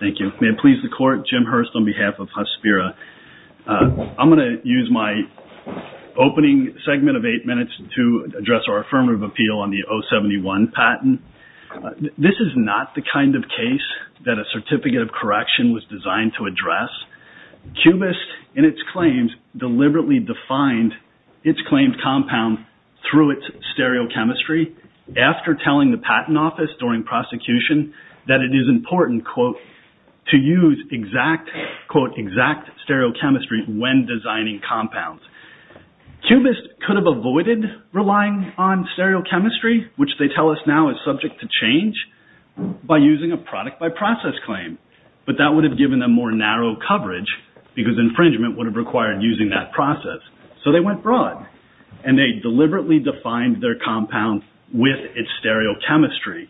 This video is a derivative work of the Council on Violence Against Women. No part of this recording may be reproduced without Mooji Media Ltd.'s express consent. This video is a derivative work of the Council on Violence Against Women. You may proceed, Mr. Hurst. Thank you. May it please the Court, Jim Hurst on behalf of Hospira. I'm going to use my opening segment of eight minutes to address our affirmative appeal on the 071 patent. This is not the kind of case that a certificate of correction was designed to address. Cubist, in its claims, deliberately defined its claimed compound through its stereochemistry. After telling the patent office during prosecution that it is important, quote, to use exact, quote, exact stereochemistry when designing compounds. Cubist could have avoided relying on stereochemistry, which they tell us now is subject to change, by using a product by process claim. But that would have given them more narrow coverage, because infringement would have required using that process. So they went broad, and they deliberately defined their compound with its stereochemistry.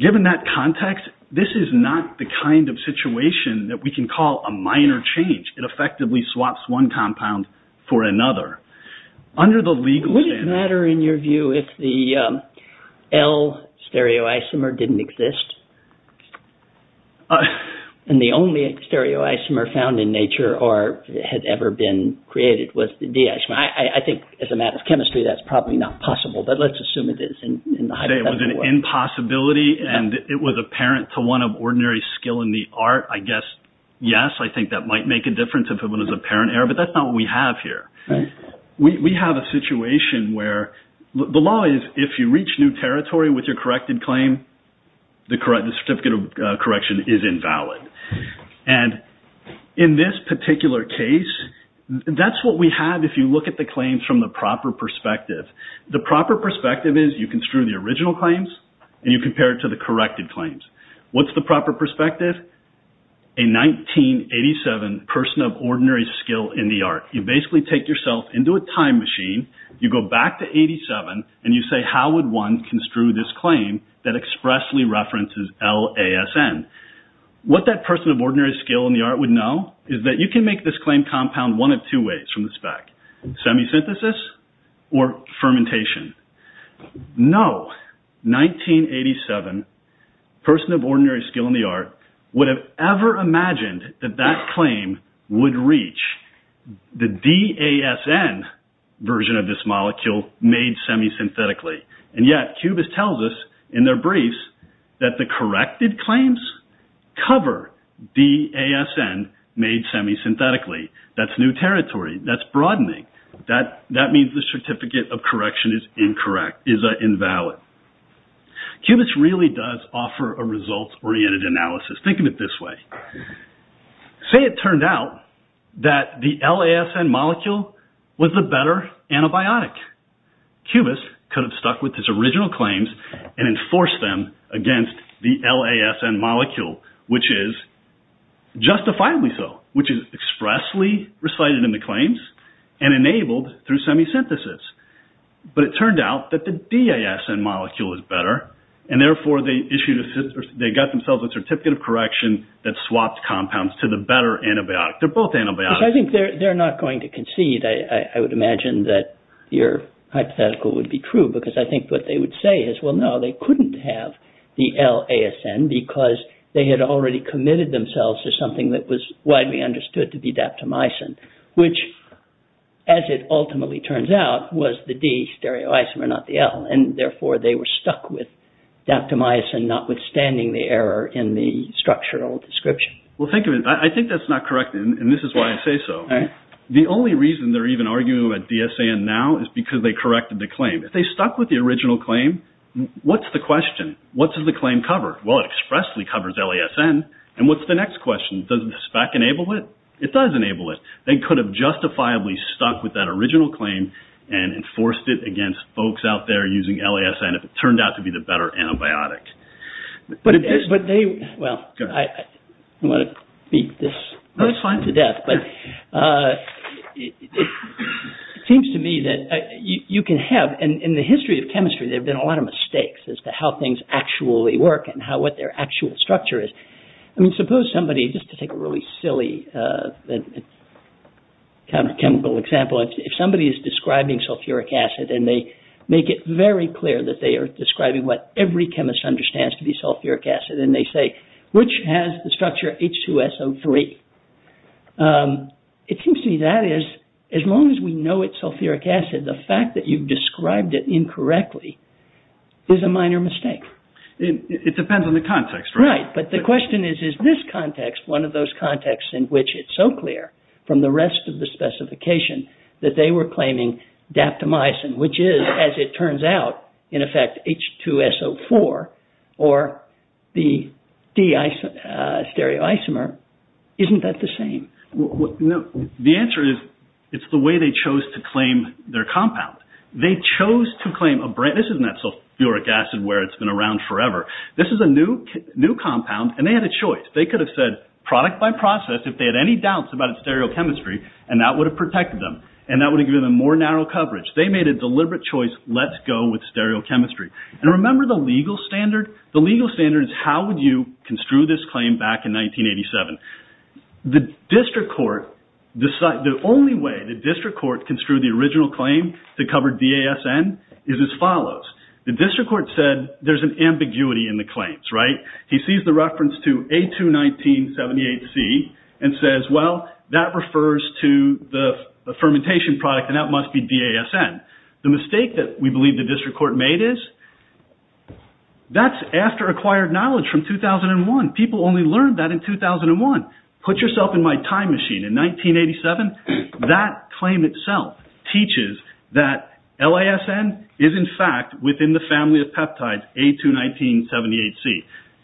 Given that context, this is not the kind of situation that we can call a minor change. It effectively swaps one compound for another. Under the legal standard... Would it matter, in your view, if the L stereoisomer didn't exist? And the only stereoisomer found in nature or had ever been created was the D isomer. I think, as a matter of chemistry, that's probably not possible. But let's assume it is in the hypothetical world. It was an impossibility, and it was apparent to one of ordinary skill in the art. I guess, yes, I think that might make a difference if it was apparent error. But that's not what we have here. We have a situation where... Each new territory with your corrected claim, the certificate of correction is invalid. And in this particular case, that's what we have if you look at the claims from the proper perspective. The proper perspective is you construe the original claims, and you compare it to the corrected claims. What's the proper perspective? A 1987 person of ordinary skill in the art. You basically take yourself into a time machine. You go back to 87, and you say, how would one construe this claim that expressly references LASN? What that person of ordinary skill in the art would know is that you can make this claim compound one of two ways from the spec. Semi-synthesis or fermentation. No 1987 person of ordinary skill in the art would have ever imagined that that claim would reach the DASN version of this molecule made semi-synthetically. And yet, Cubist tells us in their briefs that the corrected claims cover DASN made semi-synthetically. That's new territory. That's broadening. That means the certificate of correction is incorrect, is invalid. Cubist really does offer a results-oriented analysis. Think of it this way. Say it turned out that the LASN molecule was the better antibiotic. Cubist could have stuck with his original claims and enforced them against the LASN molecule, which is justifiably so, which is expressly recited in the claims. And enabled through semi-synthesis. But it turned out that the DASN molecule is better. And therefore, they got themselves a certificate of correction that swapped compounds to the better antibiotic. They're both antibiotics. I think they're not going to concede. I would imagine that your hypothetical would be true. Because I think what they would say is, well, no, they couldn't have the LASN because they had already committed themselves to something that was widely understood to be daptomycin. Which, as it ultimately turns out, was the D stereoisomer, not the L. And therefore, they were stuck with daptomycin, notwithstanding the error in the structural description. Well, think of it. I think that's not correct. And this is why I say so. The only reason they're even arguing about DASN now is because they corrected the claim. If they stuck with the original claim, what's the question? What does the claim cover? Well, it expressly covers LASN. And what's the next question? Does the SPAC enable it? It does enable it. They could have justifiably stuck with that original claim and enforced it against folks out there using LASN if it turned out to be the better antibiotic. Well, I don't want to beat this to death, but it seems to me that you can have, in the history of chemistry, there have been a lot of mistakes as to how things actually work and what their actual structure is. I mean, suppose somebody, just to take a really silly kind of chemical example, if somebody is describing sulfuric acid and they make it very clear that they are describing what every chemist understands to be sulfuric acid, and they say, which has the structure H2SO3? It seems to me that is, as long as we know it's sulfuric acid, the fact that you've described it incorrectly is a minor mistake. It depends on the context, right? Right, but the question is, is this context one of those contexts in which it's so clear from the rest of the specification that they were claiming daptomycin, which is, as it turns out, in effect, H2SO4 or the D stereoisomer. Isn't that the same? The answer is it's the way they chose to claim their compound. They chose to claim a brand. This isn't that sulfuric acid where it's been around forever. This is a new compound, and they had a choice. They could have said, product by process, if they had any doubts about its stereochemistry, and that would have protected them, and that would have given them more narrow coverage. They made a deliberate choice, let's go with stereochemistry. And remember the legal standard? The legal standard is how would you construe this claim back in 1987? The only way the district court construed the original claim to cover DASN is as follows. The district court said there's an ambiguity in the claims, right? He sees the reference to A21978C and says, well, that refers to the fermentation product, and that must be DASN. The mistake that we believe the district court made is that's after acquired knowledge from 2001. People only learned that in 2001. Put yourself in my time machine. In 1987, that claim itself teaches that LASN is, in fact, within the family of peptides A21978C.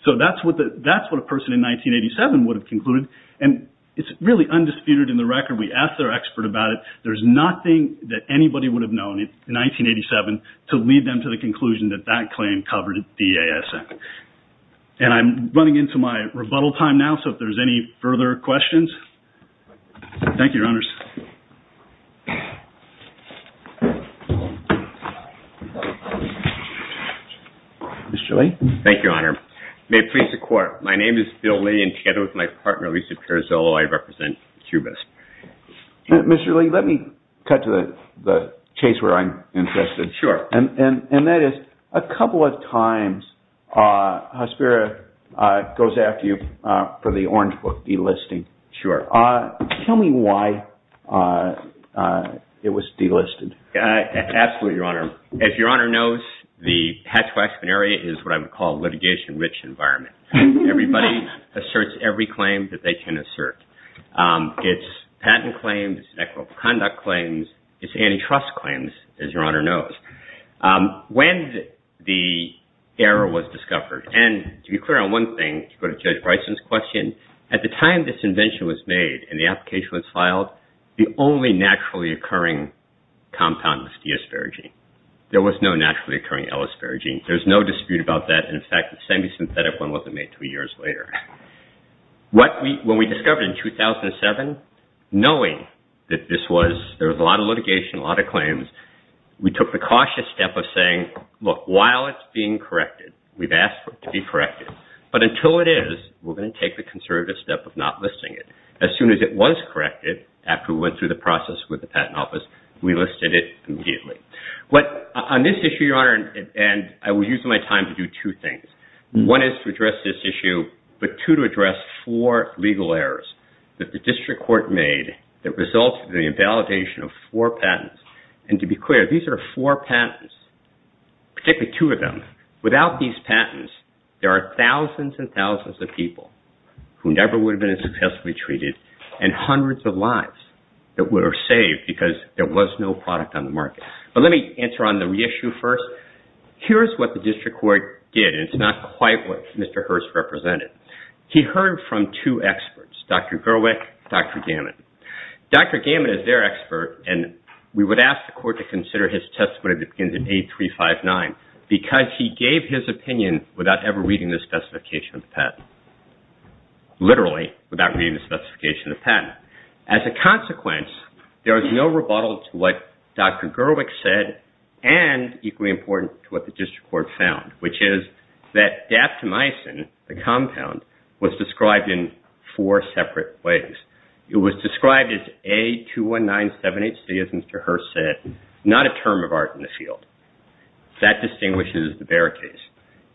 So that's what a person in 1987 would have concluded, and it's really undisputed in the record. We asked our expert about it. There's nothing that anybody would have known in 1987 to lead them to the conclusion that that claim covered DASN. And I'm running into my rebuttal time now, so if there's any further questions. Thank you, Your Honors. Mr. Lee? Thank you, Your Honor. May it please the Court, my name is Bill Lee, and together with my partner, Lisa Carazzolo, I represent QBIS. Mr. Lee, let me cut to the chase where I'm interested. Sure. And that is, a couple of times, Hesperia goes after you for the Orange Book delisting. Sure. Tell me why it was delisted. Absolutely, Your Honor. As Your Honor knows, the Hatch-Waxman area is what I would call a litigation-rich environment. Everybody asserts every claim that they can assert. It's patent claims, it's equitable conduct claims, it's antitrust claims, as Your Honor knows. When the error was discovered, and to be clear on one thing, to go to Judge Bryson's question, at the time this invention was made and the application was filed, the only naturally occurring compound was D-asparagine. There was no naturally occurring L-asparagine. There's no dispute about that. In fact, the semi-synthetic one wasn't made until years later. When we discovered in 2007, knowing that there was a lot of litigation, a lot of claims, we took the cautious step of saying, look, while it's being corrected, we've asked for it to be corrected, but until it is, we're going to take the conservative step of not listing it. As soon as it was corrected, after we went through the process with the Patent Office, we listed it immediately. On this issue, Your Honor, and I was using my time to do two things. One is to address this issue, but two, to address four legal errors that the district court made that resulted in the invalidation of four patents. To be clear, these are four patents, particularly two of them. Without these patents, there are thousands and thousands of people who never would have been successfully treated and hundreds of lives that were saved because there was no product on the market. Let me answer on the reissue first. Here's what the district court did, and it's not quite what Mr. Hurst represented. He heard from two experts, Dr. Gerwick and Dr. Gammon. Dr. Gammon is their expert, and we would ask the court to consider his testimony that begins in 8359 because he gave his opinion without ever reading the specification of the patent, literally without reading the specification of the patent. As a consequence, there is no rebuttal to what Dr. Gerwick said and equally important to what the district court found, which is that daptomycin, the compound, was described in four separate ways. It was described as A21978C, as Mr. Hurst said, not a term of art in the field. That distinguishes the Barakas.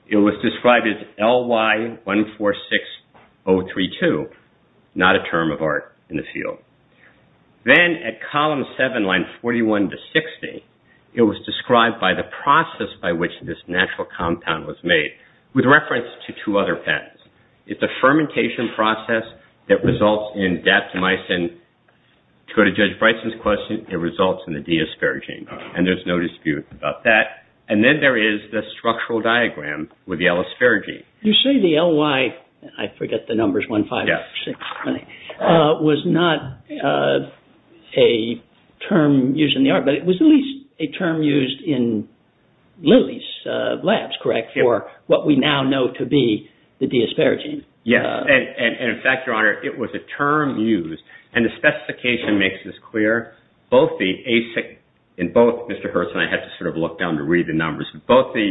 It was described as LY146032, not a term of art in the field. Then at column 7, line 41 to 60, it was described by the process by which this natural compound was made with reference to two other patents. It's a fermentation process that results in daptomycin. To go to Judge Bryson's question, it results in the D asparagine, and there's no dispute about that. Then there is the structural diagram with the L asparagine. You say the LY, I forget the numbers, 15620, was not a term used in the art, but it was at least a term used in Lilly's labs, correct, for what we now know to be the D asparagine. Yes, and in fact, Your Honor, it was a term used, and the specification makes this clear. In both, Mr. Hurst and I had to sort of look down to read the numbers. Both the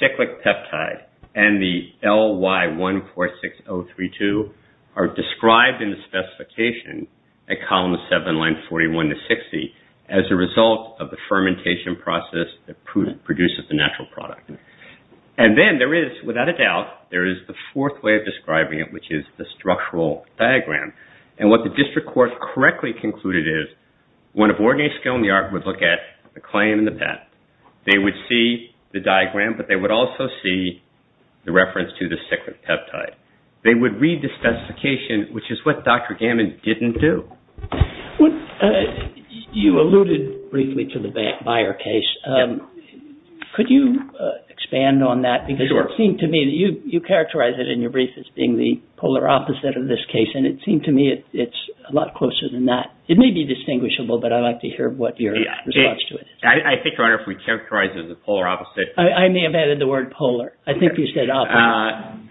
cyclic peptide and the LY146032 are described in the specification at column 7, line 41 to 60, as a result of the fermentation process that produces the natural product. Then there is, without a doubt, there is the fourth way of describing it, which is the structural diagram. What the district court correctly concluded is, one of ordinary skill in the art would look at the claim and the path. They would see the diagram, but they would also see the reference to the cyclic peptide. They would read the specification, which is what Dr. Gammon didn't do. You alluded briefly to the Beyer case. Yes. Could you expand on that? Sure. It seemed to me that you characterized it in your brief as being the polar opposite of this case, and it seemed to me it's a lot closer than that. It may be distinguishable, but I'd like to hear what your response to it is. I think, Your Honor, if we characterize it as the polar opposite… I may have added the word polar. I think you said opposite.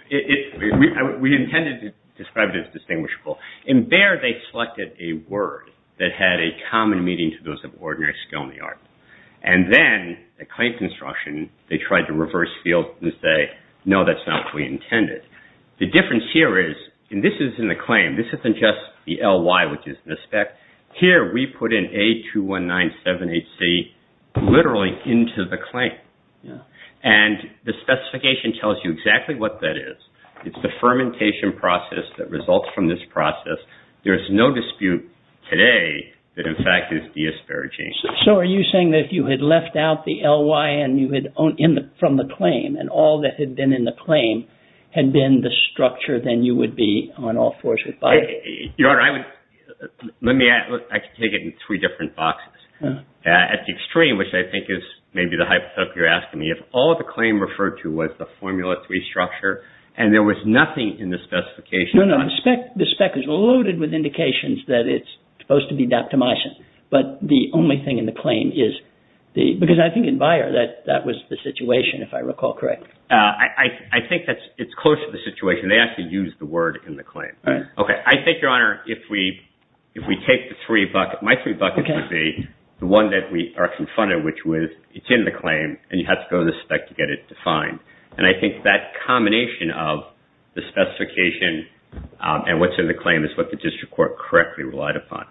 We intended to describe it as distinguishable. In Beyer, they selected a word that had a common meaning to those of ordinary skill in the art. Then, the claim construction, they tried to reverse field and say, no, that's not what we intended. The difference here is, and this is in the claim. This isn't just the LY, which is the spec. Here, we put in A21978C literally into the claim. The specification tells you exactly what that is. It's the fermentation process that results from this process. There is no dispute today that, in fact, it's deasparaging. Are you saying that if you had left out the LY from the claim, and all that had been in the claim had been the structure, then you would be on all fours with Beyer? Your Honor, I could take it in three different boxes. At the extreme, which I think is maybe the hypothetical you're asking me, if all the claim referred to was the formula three structure, and there was nothing in the specification… No, no, the spec is loaded with indications that it's supposed to be daptomycin, but the only thing in the claim is the… Because I think in Beyer, that was the situation, if I recall correctly. I think it's close to the situation. They actually used the word in the claim. I think, Your Honor, if we take the three buckets… My three buckets would be the one that we are confronted with, which is it's in the claim, and you have to go to the spec to get it defined. I think that combination of the specification and what's in the claim is what the district court correctly relied upon.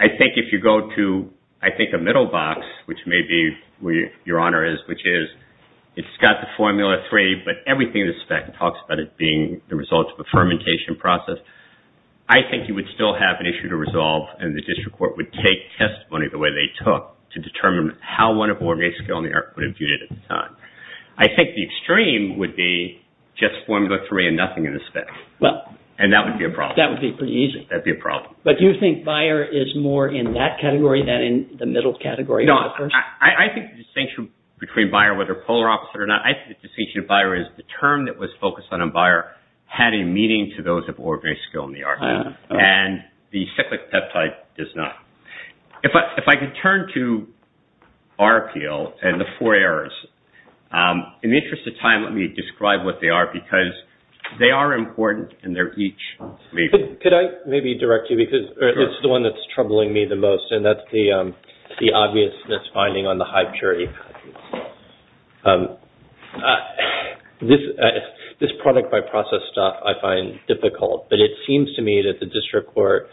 I think if you go to, I think, a middle box, which may be where Your Honor is, which is it's got the formula three, but everything in the spec talks about it being the result of a fermentation process. I think you would still have an issue to resolve, and the district court would take testimony the way they took to determine how one of OrgA's skill in the art would have viewed it at the time. I think the extreme would be just formula three and nothing in the spec, and that would be a problem. That would be pretty easy. That would be a problem. But do you think Bayer is more in that category than in the middle category? No, I think the distinction between Bayer, whether polar opposite or not, I think the distinction of Bayer is the term that was focused on in Bayer had a meaning to those of OrgA's skill in the art, and the cyclic peptide does not. If I could turn to RPL and the four errors, in the interest of time, let me describe what they are, because they are important, and they're each… Could I maybe direct you because it's the one that's troubling me the most, and that's the obviousness finding on the high purity. This product by process stuff I find difficult, but it seems to me that the district court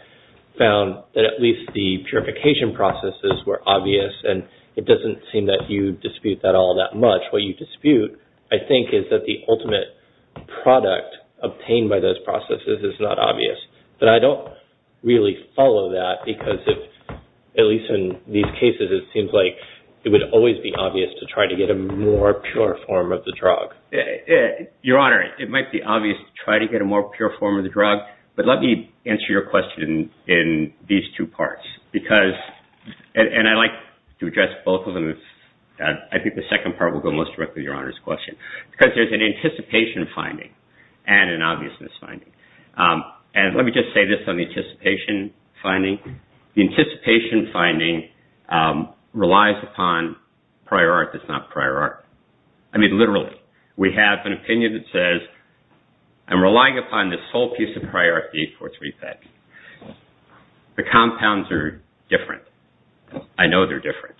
found that at least the purification processes were obvious, and it doesn't seem that you dispute that all that much. What you dispute, I think, is that the ultimate product obtained by those processes is not obvious, but I don't really follow that, because at least in these cases it seems like it would always be obvious to try to get a more pure form of the drug. Your Honor, it might be obvious to try to get a more pure form of the drug, but let me answer your question in these two parts, and I'd like to address both of them. I think the second part will go most directly to Your Honor's question, because there's an anticipation finding and an obviousness finding. Let me just say this on the anticipation finding. The anticipation finding relies upon prior art that's not prior art. I mean, literally. We have an opinion that says, I'm relying upon this whole piece of prior art, the 843 FET. The compounds are different. I know they're different.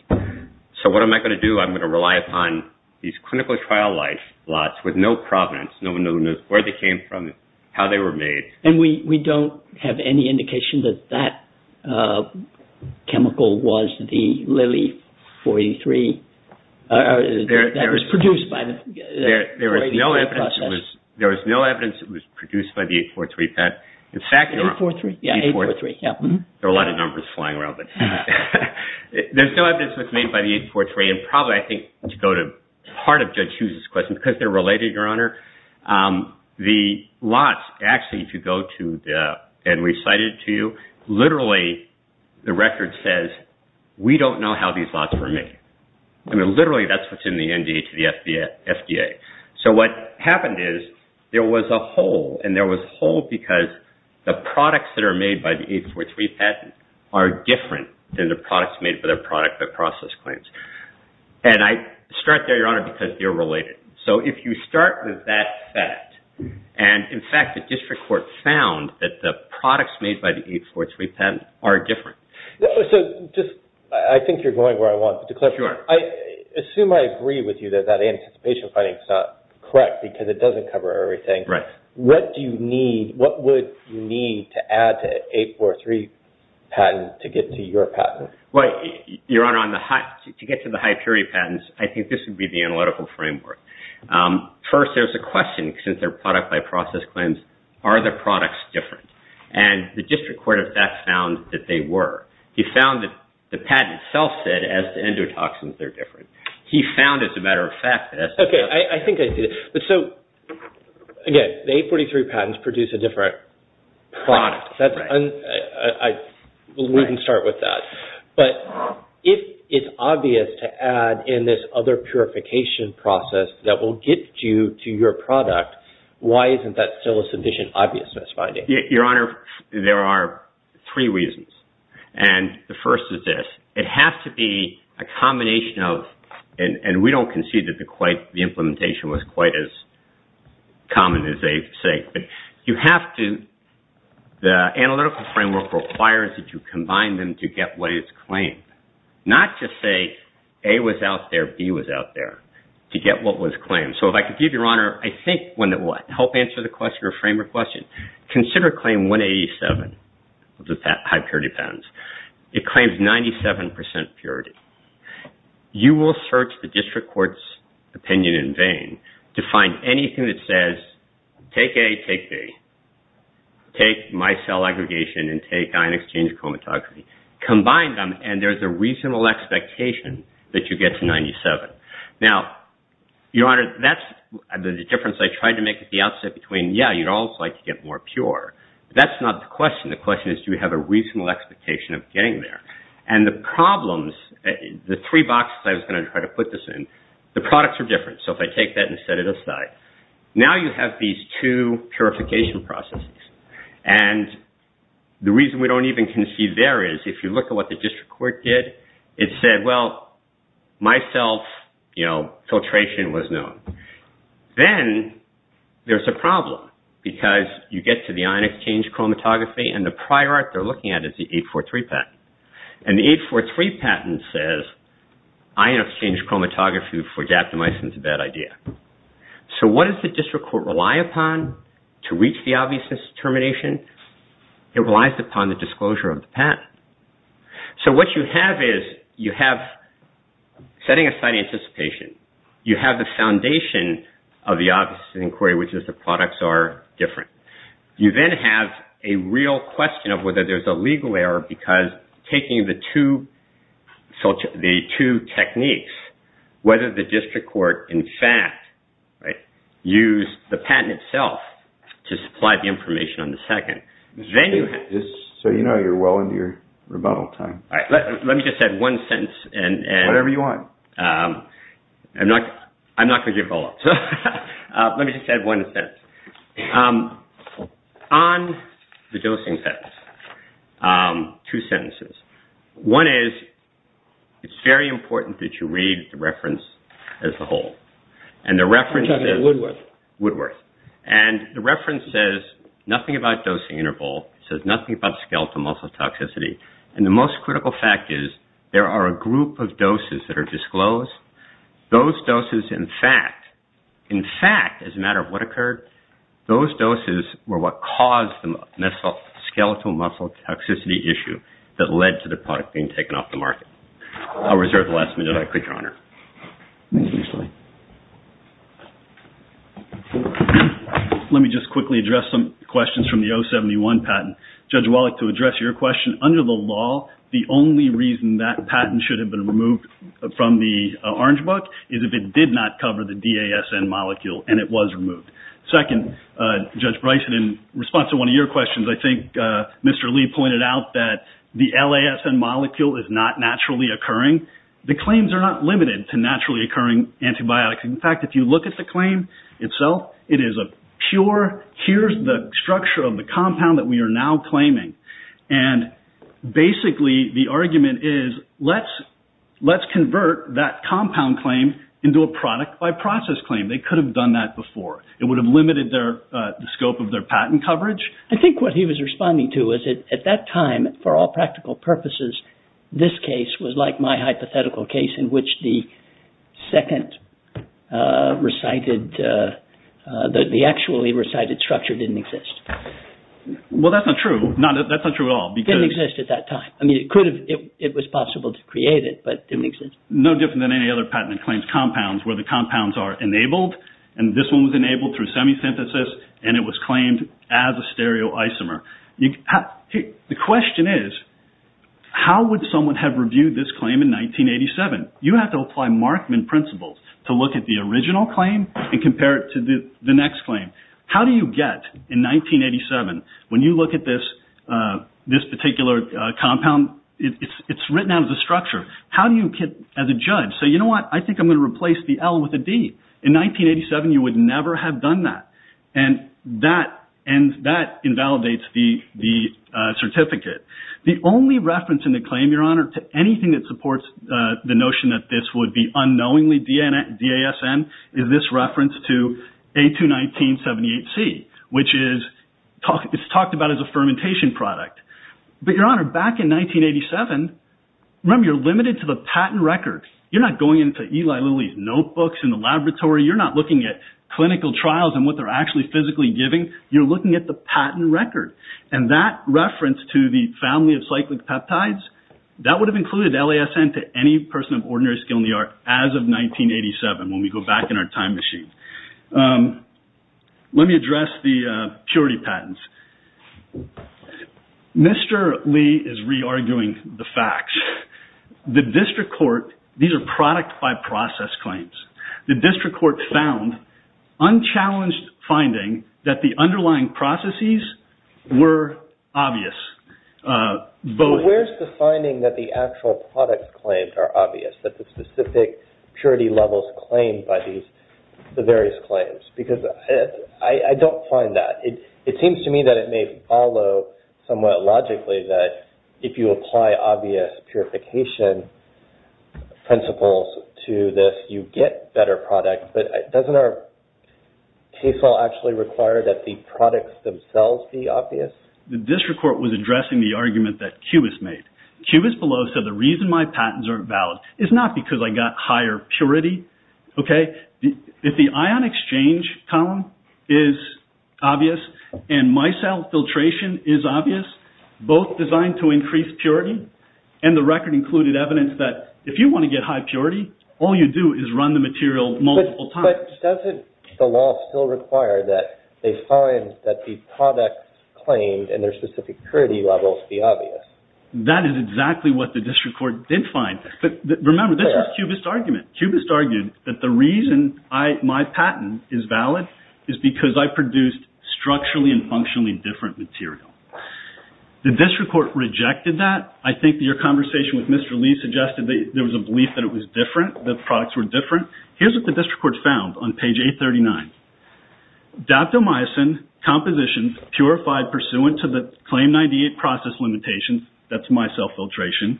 So what am I going to do? I'm going to rely upon these clinical trial life plots with no provenance. No one knows where they came from, how they were made. And we don't have any indication that that chemical was the LILI-483 that was produced by the process. There was no evidence it was produced by the 843 FET. 843? Yeah, 843. There are a lot of numbers flying around. There's no evidence it was made by the 843. And probably, I think, to go to part of Judge Hughes' question, because they're related, Your Honor, the lots actually, if you go to and we cite it to you, literally the record says we don't know how these lots were made. I mean, literally, that's what's in the NDA to the FDA. So what happened is there was a hole, and there was a hole because the products that are made by the 843 FET are different than the products made by the product that process claims. And I start there, Your Honor, because they're related. So if you start with that FET, and, in fact, the district court found that the products made by the 843 FET are different. So just, I think you're going where I want, but to clarify, I assume I agree with you that that anticipation finding is not correct because it doesn't cover everything. What would you need to add to an 843 patent to get to your patent? Well, Your Honor, to get to the high purity patents, I think this would be the analytical framework. First, there's a question, since they're product-by-process claims, are the products different? And the district court of FET found that they were. He found that the patent itself said, as to endotoxins, they're different. He found, as a matter of fact, that as to FETs... Okay, I think I see it. So, again, the 843 patents produce a different product. We can start with that. But if it's obvious to add in this other purification process that will get you to your product, why isn't that still a sufficient obviousness finding? Your Honor, there are three reasons. And the first is this. It has to be a combination of, and we don't concede that the implementation was quite as common as they say, but you have to... The analytical framework requires that you combine them to get what is claimed, not just say A was out there, B was out there, to get what was claimed. So, if I could give you, Your Honor, I think one that will help answer the framework question. Consider claim 187 of the high purity patents. It claims 97% purity. You will search the district court's opinion in vain to find anything that says, take A, take B. Take micelle aggregation and take dynex gene chromatography. Combine them, and there's a reasonable expectation that you get to 97. Now, Your Honor, that's the difference I tried to make at the outset between, yeah, you'd also like to get more pure. That's not the question. The question is, do we have a reasonable expectation of getting there? And the problems, the three boxes I was going to try to put this in, the products are different. So, if I take that and set it aside. Now, you have these two purification processes, and the reason we don't even concede there is if you look at what the district court did, it said, well, micelle filtration was known. Then, there's a problem because you get to the dynex gene chromatography, and the prior art they're looking at is the 843 patent. And the 843 patent says ion exchange chromatography for gap to micelle is a bad idea. So, what does the district court rely upon to reach the obviousness determination? It relies upon the disclosure of the patent. So, what you have is you have setting aside anticipation. You have the foundation of the obviousness inquiry, which is the products are different. You then have a real question of whether there's a legal error because taking the two techniques, whether the district court, in fact, used the patent itself to supply the information on the second. So, you know you're well into your rebuttal time. Let me just add one sentence. Whatever you want. I'm not going to give follow-ups. Let me just add one sentence. On the dosing test, two sentences. One is it's very important that you read the reference as a whole. I'm talking about Woodworth. Woodworth. And the reference says nothing about dosing interval. It says nothing about skeletal muscle toxicity. And the most critical fact is there are a group of doses that are disclosed. Those doses, in fact, in fact, as a matter of what occurred, those doses were what caused the skeletal muscle toxicity issue that led to the product being taken off the market. I'll reserve the last minute. I quit, Your Honor. Let me just quickly address some questions from the 071 patent. Judge Wallach, to address your question, under the law, the only reason that patent should have been removed from the Orange Book is if it did not cover the DASN molecule and it was removed. Second, Judge Bryson, in response to one of your questions, I think Mr. Lee pointed out that the LASN molecule is not naturally occurring. The claims are not limited to naturally occurring antibiotics. In fact, if you look at the claim itself, it is a pure, here's the structure of the compound that we are now claiming. And basically, the argument is let's convert that compound claim into a product by process claim. They could have done that before. It would have limited the scope of their patent coverage. I think what he was responding to was that at that time, for all practical purposes, this case was like my hypothetical case in which the second recited, the actually recited structure didn't exist. Well, that's not true. That's not true at all. It didn't exist at that time. I mean, it was possible to create it, but it didn't exist. No different than any other patent that claims compounds where the compounds are enabled, and this one was enabled through semi-synthesis, and it was claimed as a stereoisomer. The question is, how would someone have reviewed this claim in 1987? You have to apply Markman principles to look at the original claim and compare it to the next claim. How do you get, in 1987, when you look at this particular compound, it's written out as a structure. How do you, as a judge, say, you know what, I think I'm going to replace the L with a D? In 1987, you would never have done that, and that invalidates the certificate. The only reference in the claim, Your Honor, to anything that supports the notion that this would be unknowingly DASM is this reference to A21978C, which is talked about as a fermentation product. But, Your Honor, back in 1987, remember, you're limited to the patent records. You're not going into Eli Lilly's notebooks in the laboratory. You're not looking at clinical trials and what they're actually physically giving. You're looking at the patent record, and that reference to the family of cyclic peptides, that would have included LASN to any person of ordinary skill in the art as of 1987, when we go back in our time machine. Let me address the purity patents. Mr. Lee is re-arguing the facts. The district court, these are product by process claims. The district court found unchallenged finding that the underlying processes were obvious. But where's the finding that the actual product claims are obvious, that the specific purity levels claimed by the various claims? Because I don't find that. It seems to me that it may follow somewhat logically that if you apply obvious purification principles to this, you get better products. But doesn't our case law actually require that the products themselves be obvious? The district court was addressing the argument that Cubis made. Cubis below said the reason my patents aren't valid is not because I got higher purity. If the ion exchange column is obvious and micelle filtration is obvious, both designed to increase purity, and the record included evidence that if you want to get high purity, all you do is run the material multiple times. But doesn't the law still require that they find that the products claimed and their specific purity levels be obvious? That is exactly what the district court did find. Remember, this is Cubis' argument. Cubis argued that the reason my patent is valid is because I produced structurally and functionally different material. The district court rejected that. I think your conversation with Mr. Lee suggested that there was a belief that it was different, that the products were different. Here's what the district court found on page 839. Daptomycin compositions purified pursuant to the Claim 98 process limitations, that's micelle filtration,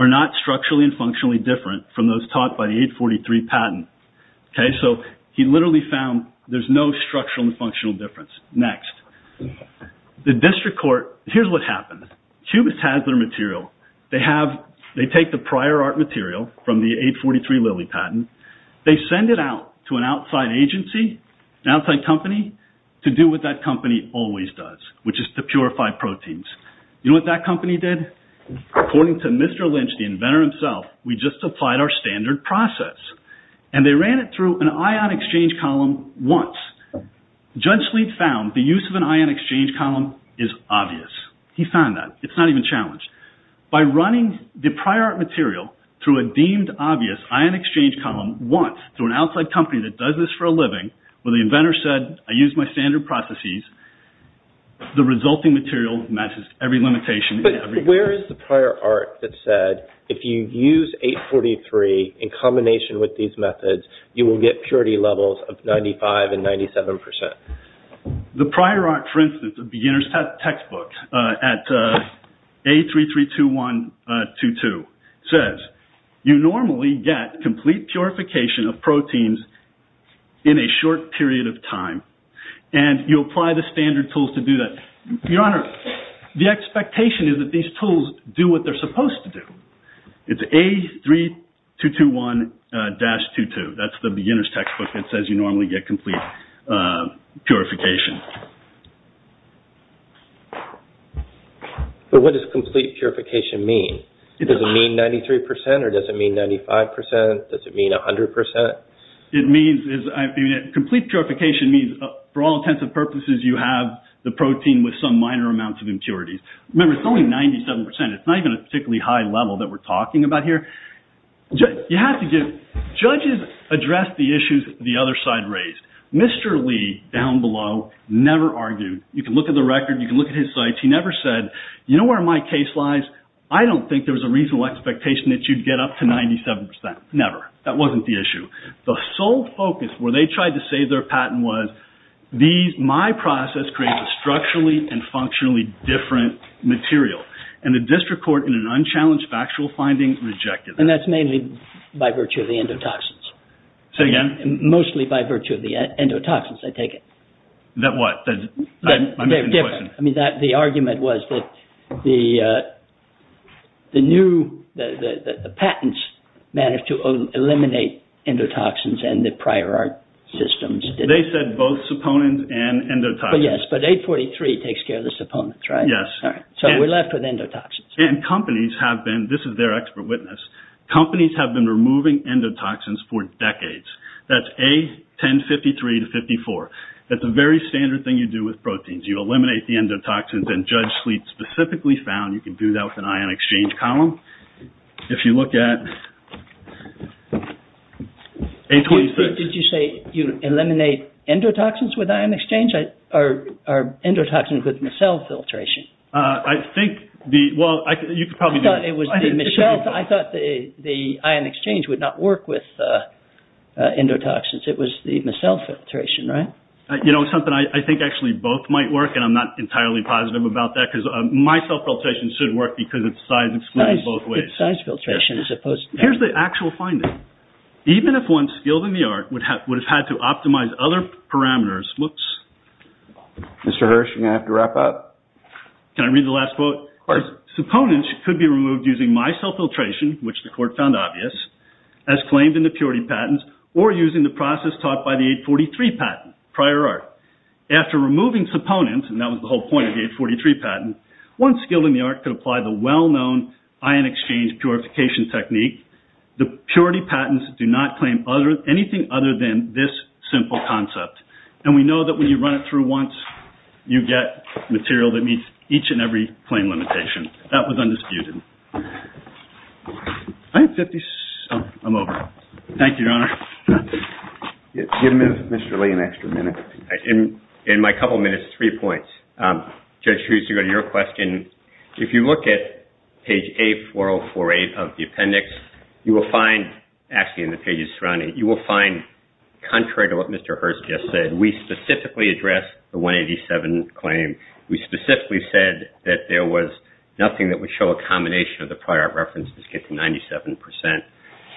are not structurally and functionally different from those taught by the 843 patent. He literally found there's no structural and functional difference. Next. The district court, here's what happened. Cubis has their material. They take the prior art material from the 843 Lilly patent. They send it out to an outside agency, an outside company, to do what that company always does, which is to purify proteins. You know what that company did? According to Mr. Lynch, the inventor himself, we just applied our standard process. And they ran it through an ion exchange column once. Judge Sleet found the use of an ion exchange column is obvious. He found that. It's not even challenged. By running the prior art material through a deemed obvious ion exchange column once, through an outside company that does this for a living, where the inventor said, I use my standard processes, the resulting material matches every limitation. But where is the prior art that said, if you use 843 in combination with these methods, you will get purity levels of 95 and 97 percent? The prior art, for instance, a beginner's textbook at A332122 says, you normally get complete purification of proteins in a short period of time. And you apply the standard tools to do that. Your Honor, the expectation is that these tools do what they're supposed to do. It's A3221-22. That's the beginner's textbook that says you normally get complete purification. But what does complete purification mean? Does it mean 93 percent or does it mean 95 percent? Does it mean 100 percent? Complete purification means, for all intents and purposes, you have the protein with some minor amounts of impurities. Remember, it's only 97 percent. It's not even a particularly high level that we're talking about here. Judges addressed the issues the other side raised. Mr. Lee, down below, never argued. You can look at the record. You can look at his sites. He never said, you know where my case lies? I don't think there was a reasonable expectation that you'd get up to 97 percent. Never. That wasn't the issue. The sole focus where they tried to save their patent was, my process creates a structurally and functionally different material. And the district court, in an unchallenged factual finding, rejected that. And that's mainly by virtue of the endotoxins. Say again? Mostly by virtue of the endotoxins, I take it. That what? I'm making a question. I mean, the argument was that the patents managed to eliminate endotoxins and the prior art systems. They said both saponins and endotoxins. Yes, but 843 takes care of the saponins, right? Yes. Sorry. So we're left with endotoxins. And companies have been, this is their expert witness, companies have been removing endotoxins for decades. That's A1053 to 54. That's a very standard thing you do with proteins. You eliminate the endotoxins and Judge Sleet specifically found you can do that with an ion exchange column. If you look at A26. Did you say you eliminate endotoxins with ion exchange? Or endotoxins with micelle filtration? I think the, well, you could probably do it. I thought it was the micelle. I thought the ion exchange would not work with endotoxins. It was the micelle filtration, right? You know, it's something I think actually both might work. And I'm not entirely positive about that because micelle filtration should work because it's size exclusion both ways. Size filtration as opposed to. Here's the actual finding. Even if one skilled in the art would have had to optimize other parameters. Whoops. Mr. Hirsch, you're going to have to wrap up. Can I read the last quote? Of course. Supponents could be removed using micelle filtration, which the court found obvious, as claimed in the purity patents or using the process taught by the 843 patent, prior art. After removing supponents, and that was the whole point of the 843 patent, one skilled in the art could apply the well-known ion exchange purification technique. The purity patents do not claim anything other than this simple concept. And we know that when you run it through once, you get material that meets each and every claim limitation. That was undisputed. I think 50. I'm over. Thank you, Your Honor. Give Mr. Lee an extra minute. In my couple minutes, three points. Judge Hughes, to go to your question, if you look at page A4048 of the appendix, you will find, actually in the pages surrounding it, you will find, contrary to what Mr. Hirsch just said, we specifically addressed the 187 claim. We specifically said that there was nothing that would show a combination of the prior art references get to 97%.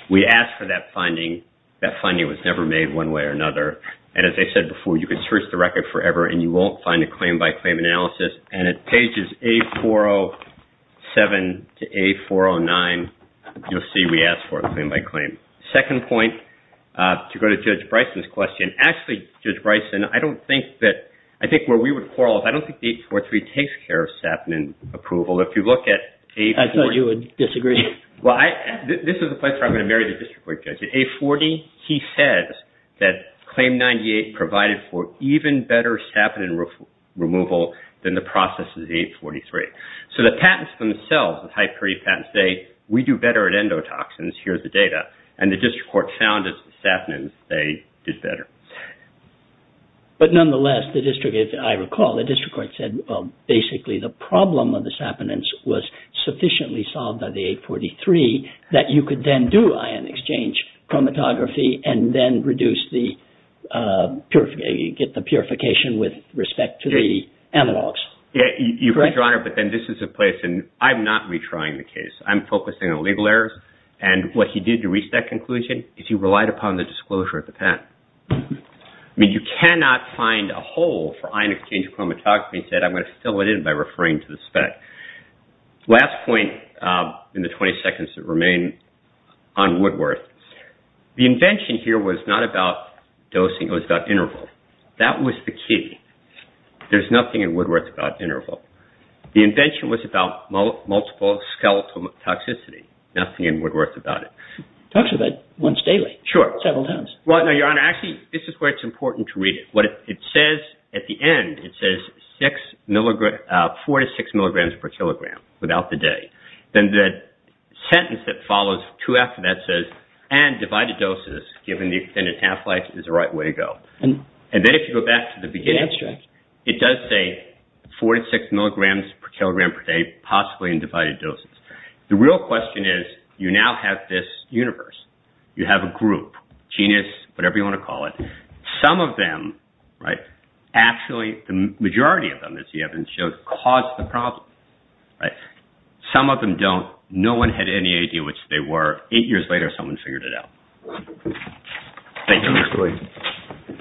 We asked for that finding. That finding was never made one way or another. And as I said before, you could search the record forever and you won't find a claim by claim analysis. And at pages A407 to A409, you'll see we asked for it claim by claim. Second point, to go to Judge Bryson's question. Actually, Judge Bryson, I don't think that, I think where we would quarrel, I don't think the 843 takes care of saponin approval. If you look at A40. I thought you would disagree. Well, this is the place where I'm going to marry the district court judge. He said that Claim 98 provided for even better saponin removal than the process of the 843. So the patents themselves, the high-period patents, say we do better at endotoxins. Here's the data. And the district court found that saponins, they did better. But nonetheless, the district, as I recall, the district court said, basically the problem of the saponins was sufficiently solved by the 843 that you could then do ion exchange chromatography and then get the purification with respect to the analogs. Your Honor, but then this is a place, and I'm not retrying the case. I'm focusing on legal errors. And what he did to reach that conclusion is he relied upon the disclosure of the patent. I mean, you cannot find a hole for ion exchange chromatography. He said, I'm going to fill it in by referring to the spec. Last point in the 20 seconds that remain on Woodworth. The invention here was not about dosing. It was about interval. That was the key. There's nothing in Woodworth about interval. The invention was about multiple skeletal toxicity. Nothing in Woodworth about it. Talks about it once daily. Sure. Several times. Well, no, Your Honor, actually this is where it's important to read it. What it says at the end, it says four to six milligrams per kilogram without the day. Then the sentence that follows two after that says, and divided doses given the extended half-life is the right way to go. And then if you go back to the beginning, it does say four to six milligrams per kilogram per day, possibly in divided doses. The real question is you now have this universe. You have a group, genus, whatever you want to call it. Some of them, right, actually the majority of them, as you have been shown, caused the problem. Some of them don't. No one had any idea which they were. Eight years later, someone figured it out. Thank you.